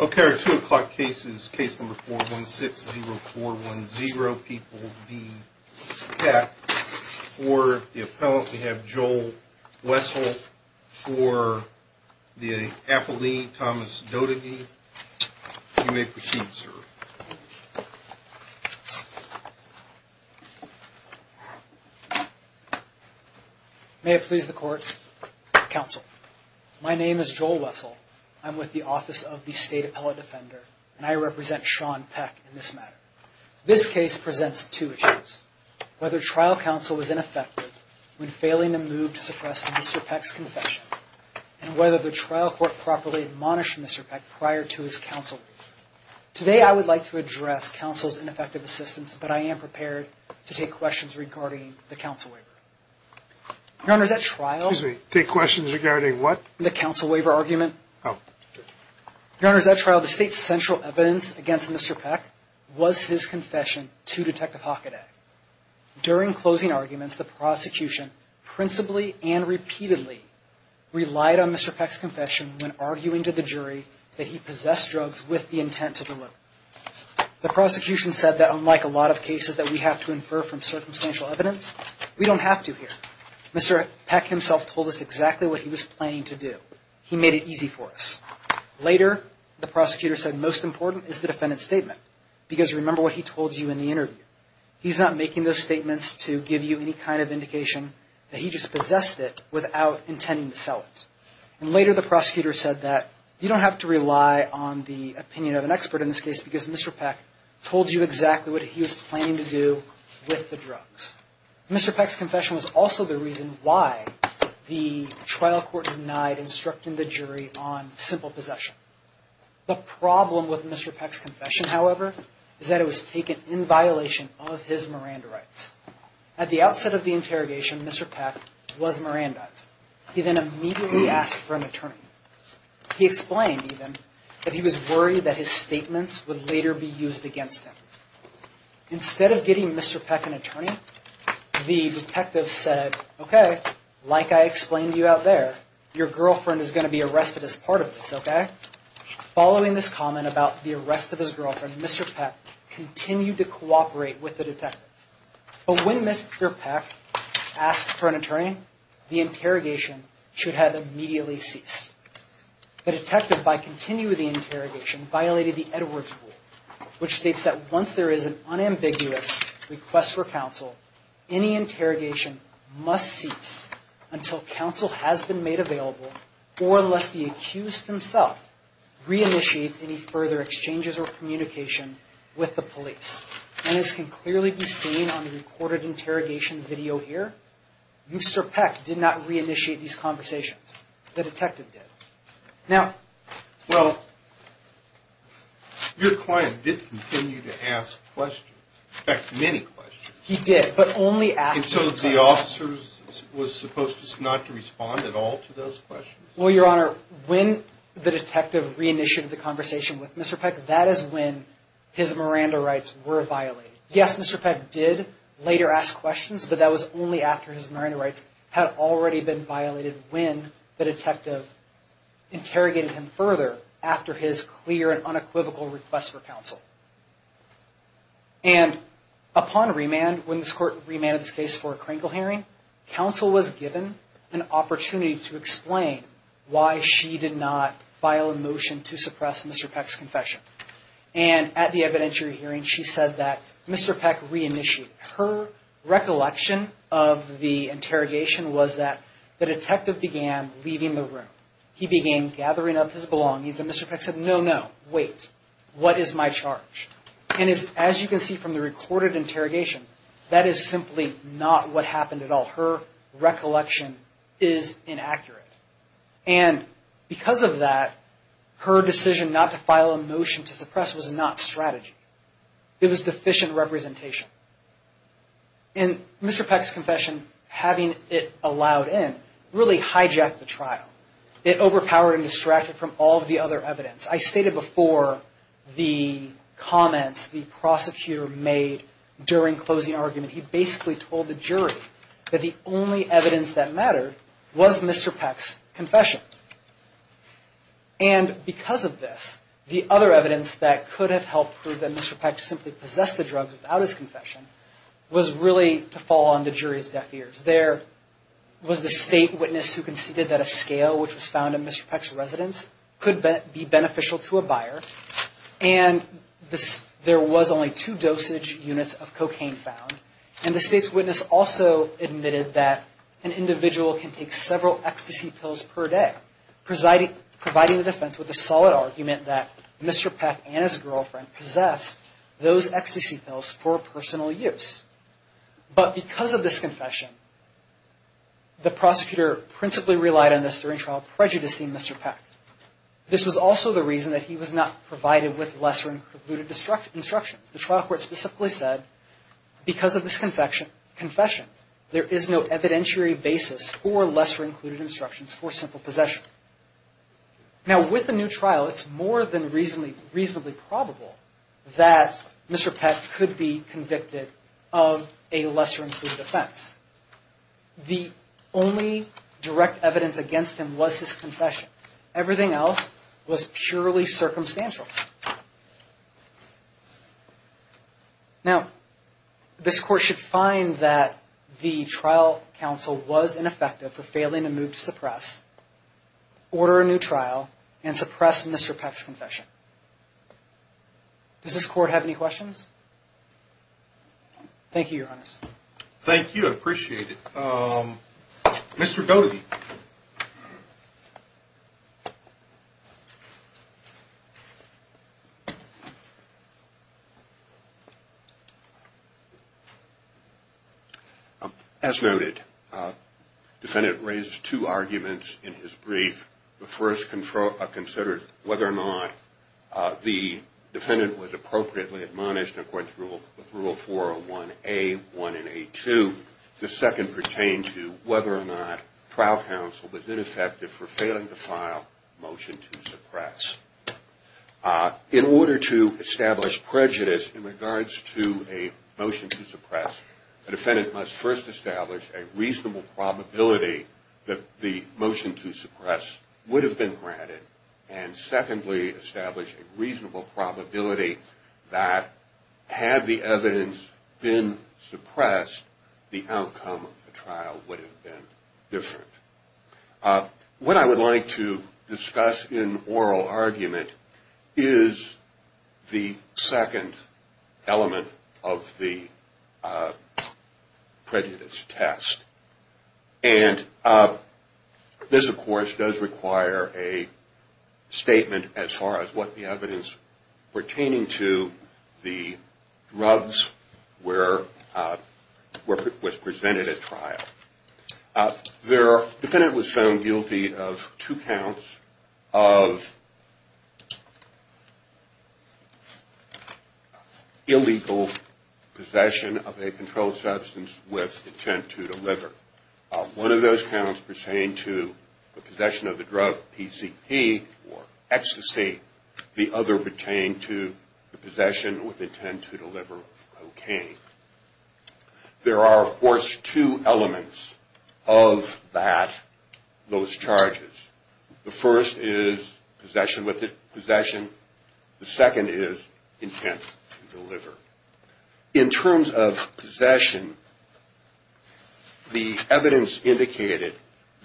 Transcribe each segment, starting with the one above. Okay, our two o'clock case is case number 416-0410, People v. Peck. For the appellant, we have Joel Wessel. For the appellee, Thomas Doedeke. You may proceed, sir. May it please the Court, Counsel. My name is Joel Wessel. I'm with the Office of the State Appellate Defender, and I represent Sean Peck in this matter. This case presents two issues. Whether trial counsel was ineffective when failing to move to suppress Mr. Peck's confession, and whether the trial court properly admonished Mr. Peck prior to his counsel review. Today, I would like to address counsel's ineffective assistance, but I am prepared to take questions regarding the counsel waiver. Your Honor, at trial... Excuse me. Take questions regarding what? The counsel waiver argument. Oh. Your Honor, at trial, the State's central evidence against Mr. Peck was his confession to Detective Hockaday. During closing arguments, the prosecution principally and repeatedly relied on Mr. Peck's confession when arguing to the jury that he possessed drugs with the intent to deliver. The prosecution said that unlike a lot of cases that we have to infer from circumstantial evidence, we don't have to here. Mr. Peck himself told us exactly what he was planning to do. He made it easy for us. Later, the prosecutor said most important is the defendant's statement, because remember what he told you in the interview. He's not making those statements to give you any kind of indication that he just possessed it without intending to sell it. And later, the prosecutor said that you don't have to rely on the opinion of an expert in this case, because Mr. Peck told you exactly what he was planning to do with the drugs. Mr. Peck's confession was also the reason why the trial court denied instructing the jury on simple possession. The problem with Mr. Peck's confession, however, is that it was taken in violation of his Miranda rights. At the outset of the interrogation, Mr. Peck was Mirandized. He then immediately asked for an attorney. He explained, even, that he was worried that his statements would later be used against him. Instead of getting Mr. Peck an attorney, the detective said, okay, like I explained to you out there, your girlfriend is going to be arrested as part of this, okay? Following this comment about the arrest of his girlfriend, Mr. Peck continued to cooperate with the detective. But when Mr. Peck asked for an attorney, the interrogation should have immediately ceased. The detective, by continuing the interrogation, violated the Edwards Rule, which states that once there is an unambiguous request for counsel, any interrogation must cease until counsel has been made available or unless the accused himself re-initiates any further exchanges or communication with the police. And this can clearly be seen on the recorded interrogation video here. Mr. Peck did not re-initiate these conversations. The detective did. Now... Well, your client did continue to ask questions. In fact, many questions. He did, but only after... And so the officer was supposed not to respond at all to those questions? Well, your Honor, when the detective re-initiated the conversation with Mr. Peck, that is when his Miranda rights were violated. Yes, Mr. Peck did later ask questions, but that was only after his Miranda rights had already been violated when the detective interrogated him further after his clear and unequivocal request for counsel. And upon remand, when this Court remanded this case for a Kringle hearing, counsel was given an opportunity to explain why she did not file a motion to suppress Mr. Peck's confession. And at the evidentiary hearing, she said that Mr. Peck re-initiated. Her recollection of the interrogation was that the detective began leaving the room. He began gathering up his belongings, and Mr. Peck said, no, no, wait, what is my charge? And as you can see from the recorded interrogation, that is simply not what happened at all. Her recollection is inaccurate. And because of that, her decision not to file a motion to suppress was not strategy. It was deficient representation. And Mr. Peck's confession, having it allowed in, really hijacked the trial. It overpowered and distracted from all of the other evidence. I stated before the comments the prosecutor made during closing argument, he basically told the jury that the only evidence that mattered was Mr. Peck's confession. And because of this, the other evidence that could have helped prove that Mr. Peck simply possessed the drugs without his confession was really to fall on the jury's deaf ears. There was the state witness who conceded that a scale which was found in Mr. Peck's residence could be beneficial to a buyer, and there was only two dosage units of cocaine found. And the state's witness also admitted that an individual can take several ecstasy pills per day, providing the defense with a solid argument that Mr. Peck and his girlfriend possessed those ecstasy pills for personal use. But because of this confession, the prosecutor principally relied on this during trial prejudicing Mr. Peck. This was also the reason that he was not provided with lesser-included instructions. The trial court specifically said, because of this confession, there is no evidentiary basis for lesser-included instructions for simple possession. Now, with the new trial, it's more than reasonably probable that Mr. Peck could be convicted of a lesser-included offense. The only direct evidence against him was his confession. Everything else was purely circumstantial. Now, this court should find that the trial counsel was ineffective for failing to move to suppress, order a new trial, and suppress Mr. Peck's confession. Does this court have any questions? Thank you, Your Honors. Thank you, I appreciate it. Mr. Doty. As noted, the defendant raised two arguments in his brief. The first considered whether or not the defendant was appropriately admonished according to Rule 401A1 and A2. The second pertained to whether or not trial counsel was ineffective for failing to file a motion to suppress. In order to establish prejudice in regards to a motion to suppress, the defendant must first establish a reasonable probability that the motion to suppress would have been granted. And secondly, establish a reasonable probability that had the evidence been suppressed, the outcome of the trial would have been different. What I would like to discuss in oral argument is the second element of the prejudice test. And this, of course, does require a statement as far as what the evidence pertaining to the drugs was presented at trial. The defendant was found guilty of two counts of illegal possession of a controlled substance with intent to deliver. One of those counts pertained to the possession of the drug PCP or ecstasy. The other pertained to the possession with intent to deliver cocaine. There are, of course, two elements of that, those charges. The first is possession, the second is intent to deliver. In terms of possession, the evidence indicated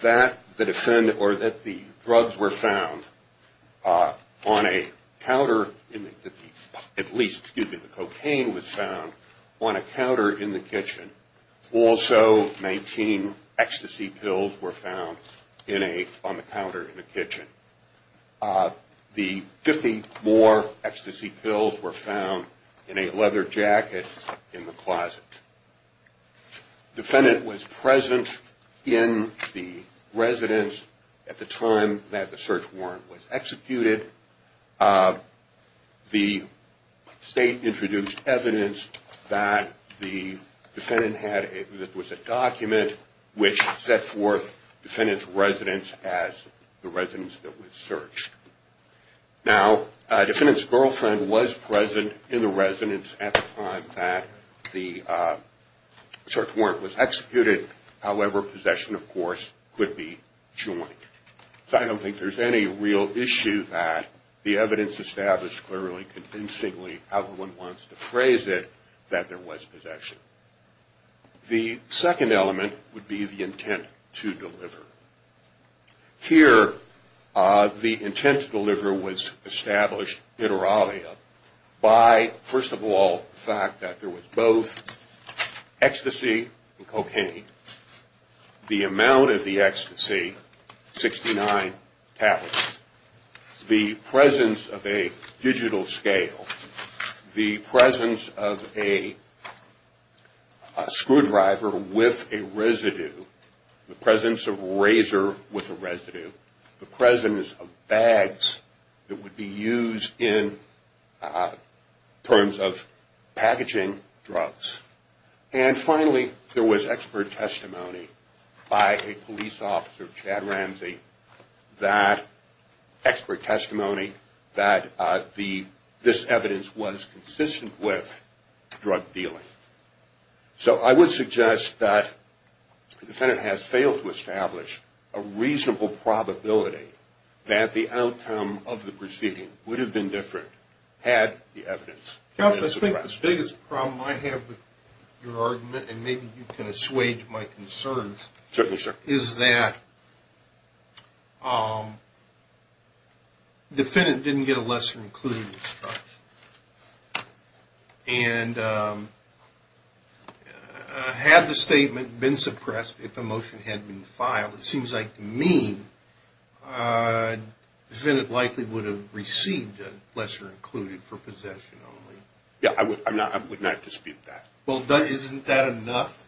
that the drug was found on a counter, at least the cocaine was found on a counter in the kitchen. Also, 19 ecstasy pills were found on the counter in the kitchen. The 50 more ecstasy pills were found in a leather jacket in the closet. The defendant was present in the residence at the time that the search warrant was executed. The state introduced evidence that the defendant had a document which set forth the defendant's residence as the residence that was searched. Now, the defendant's girlfriend was present in the residence at the time that the search warrant was executed. However, possession, of course, could be joint. So I don't think there's any real issue that the evidence established clearly, convincingly, however one wants to phrase it, that there was possession. The second element would be the intent to deliver. Here, the intent to deliver was established, it or alia, by, first of all, the fact that there was both ecstasy and cocaine. The amount of the ecstasy, 69 tablets. The presence of a digital scale. The presence of a screwdriver with a residue. The presence of a razor with a residue. The presence of bags that would be used in terms of packaging drugs. And finally, there was expert testimony by a police officer, Chad Ramsey, that, expert testimony, that this evidence was consistent with drug dealing. So I would suggest that the defendant has failed to establish a reasonable probability that the outcome of the proceeding would have been different had the evidence been suppressed. Counsel, I think the biggest problem I have with your argument, and maybe you can assuage my concerns, is that the defendant didn't get a lesser-included instruction. And had the statement been suppressed, if the motion had been filed, it seems like to me, the defendant likely would have received a lesser-included for possession only. Yeah, I would not dispute that. Well, isn't that enough?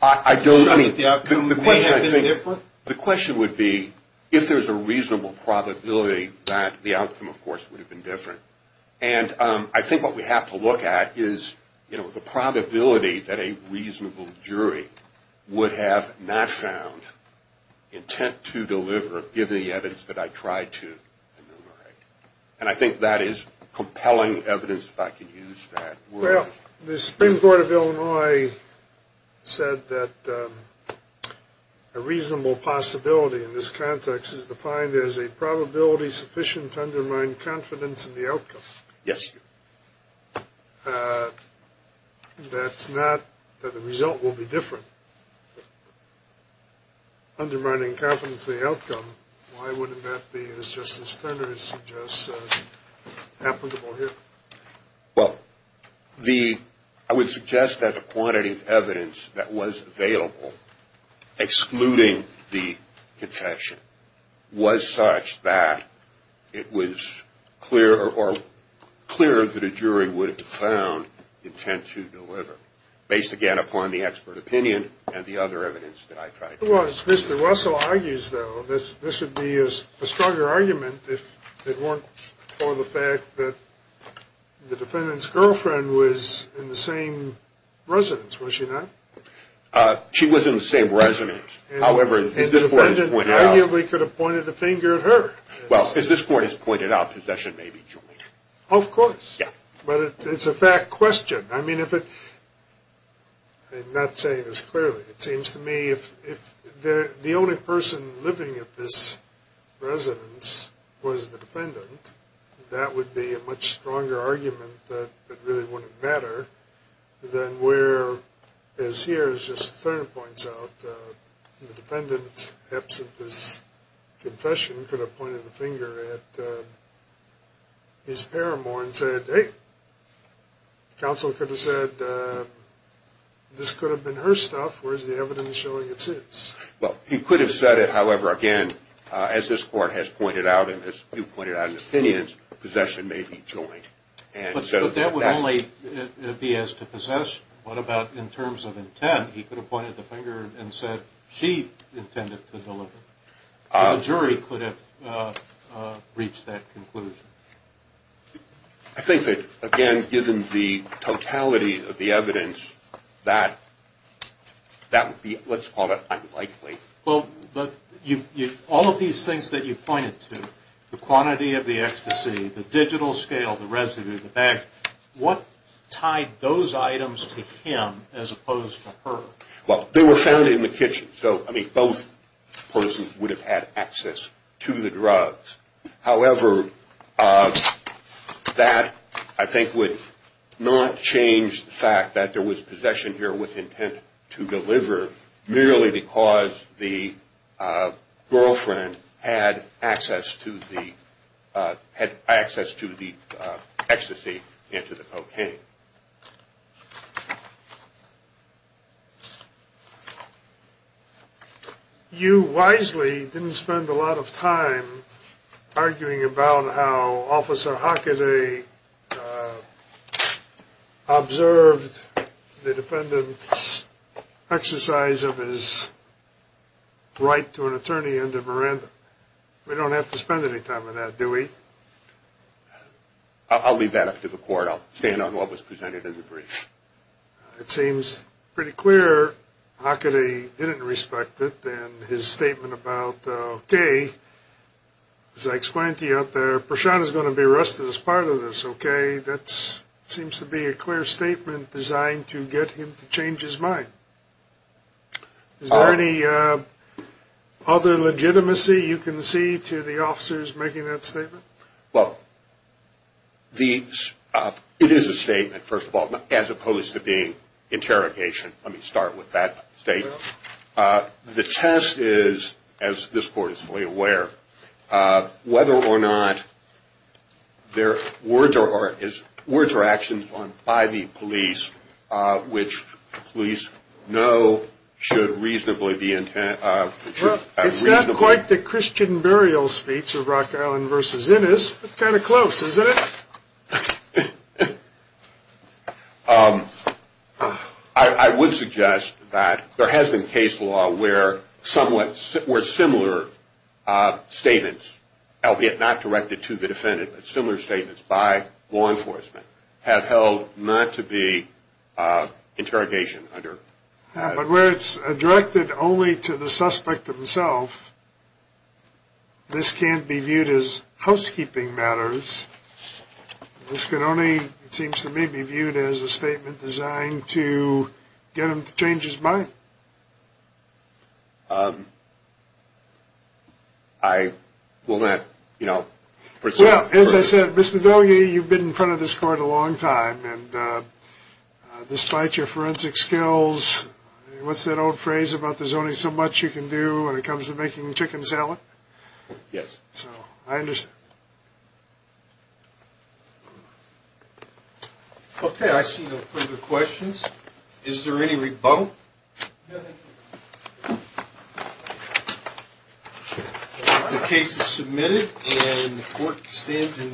I don't, I mean, the question I think, the question would be, if there's a reasonable probability that the outcome, of course, would have been different. And I think what we have to look at is, you know, the probability that a reasonable jury would have not found intent to deliver, given the evidence that I tried to enumerate. And I think that is compelling evidence, if I can use that word. The Supreme Court of Illinois said that a reasonable possibility in this context is defined as a probability sufficient to undermine confidence in the outcome. Yes. That's not that the result will be different. Undermining confidence in the outcome, why wouldn't that be, as Justice Turner suggests, applicable here? Well, the, I would suggest that the quantity of evidence that was available, excluding the confession, was such that it was clear, or clearer, that a jury would have found intent to deliver. Based, again, upon the expert opinion and the other evidence that I tried to use. If it was, as Mr. Russell argues, though, this would be a stronger argument if it weren't for the fact that the defendant's girlfriend was in the same residence, was she not? She was in the same residence. And the defendant arguably could have pointed a finger at her. Well, as this Court has pointed out, possession may be joint. Of course. Yeah. But it's a fact question. I mean, if it, I'm not saying this clearly. It seems to me if the only person living at this residence was the defendant, that would be a much stronger argument that it really wouldn't matter than where, as here, as Justice Turner points out, the defendant, absent this confession, could have pointed the finger at his pair more and said, hey, counsel could have said, this could have been her stuff, whereas the evidence showing it's his. Well, he could have said it, however, again, as this Court has pointed out, and as you pointed out in opinions, possession may be joint. But that would only be as to possess. What about in terms of intent? He could have pointed the finger and said she intended to deliver. The jury could have reached that conclusion. I think that, again, given the totality of the evidence, that would be, let's call it unlikely. Well, but all of these things that you pointed to, the quantity of the ecstasy, the digital scale, the residue, the bags, what tied those items to him as opposed to her? Well, they were found in the kitchen. So, I mean, both persons would have had access to the drugs. However, that, I think, would not change the fact that there was possession here with intent to deliver merely because the girlfriend had access to the ecstasy and to the cocaine. You wisely didn't spend a lot of time arguing about how Officer Hockaday observed the defendant's exercise of his right to an attorney under Miranda. We don't have to spend any time on that, do we? I'll leave that up to the court. I'll stand on what was presented in the brief. It seems pretty clear Hockaday didn't respect it in his statement about, okay, as I explained to you out there, Prashant is going to be arrested as part of this, okay? That seems to be a clear statement designed to get him to change his mind. Is there any other legitimacy you can see to the officers making that statement? Well, it is a statement, first of all, as opposed to being interrogation. Let me start with that statement. The test is, as this court is fully aware, whether or not there are words or actions by the police which police know should reasonably be intended. It's not quite the Christian burial speech of Rock Island v. Innis, but kind of close, isn't it? I would suggest that there has been case law where somewhat similar statements, albeit not directed to the defendant, but similar statements by law enforcement have held not to be interrogation under that. But where it's directed only to the suspect himself, this can't be viewed as housekeeping matters. This can only, it seems to me, be viewed as a statement designed to get him to change his mind. I will not, you know, pursue further. Well, as I said, Mr. Dogge, you've been in front of this court a long time, and despite your forensic skills, what's that old phrase about there's only so much you can do when it comes to making chicken salad? Yes. So, I understand. Okay, I see no further questions. Is there any rebunt? No, thank you. The case is submitted, and the court stands in...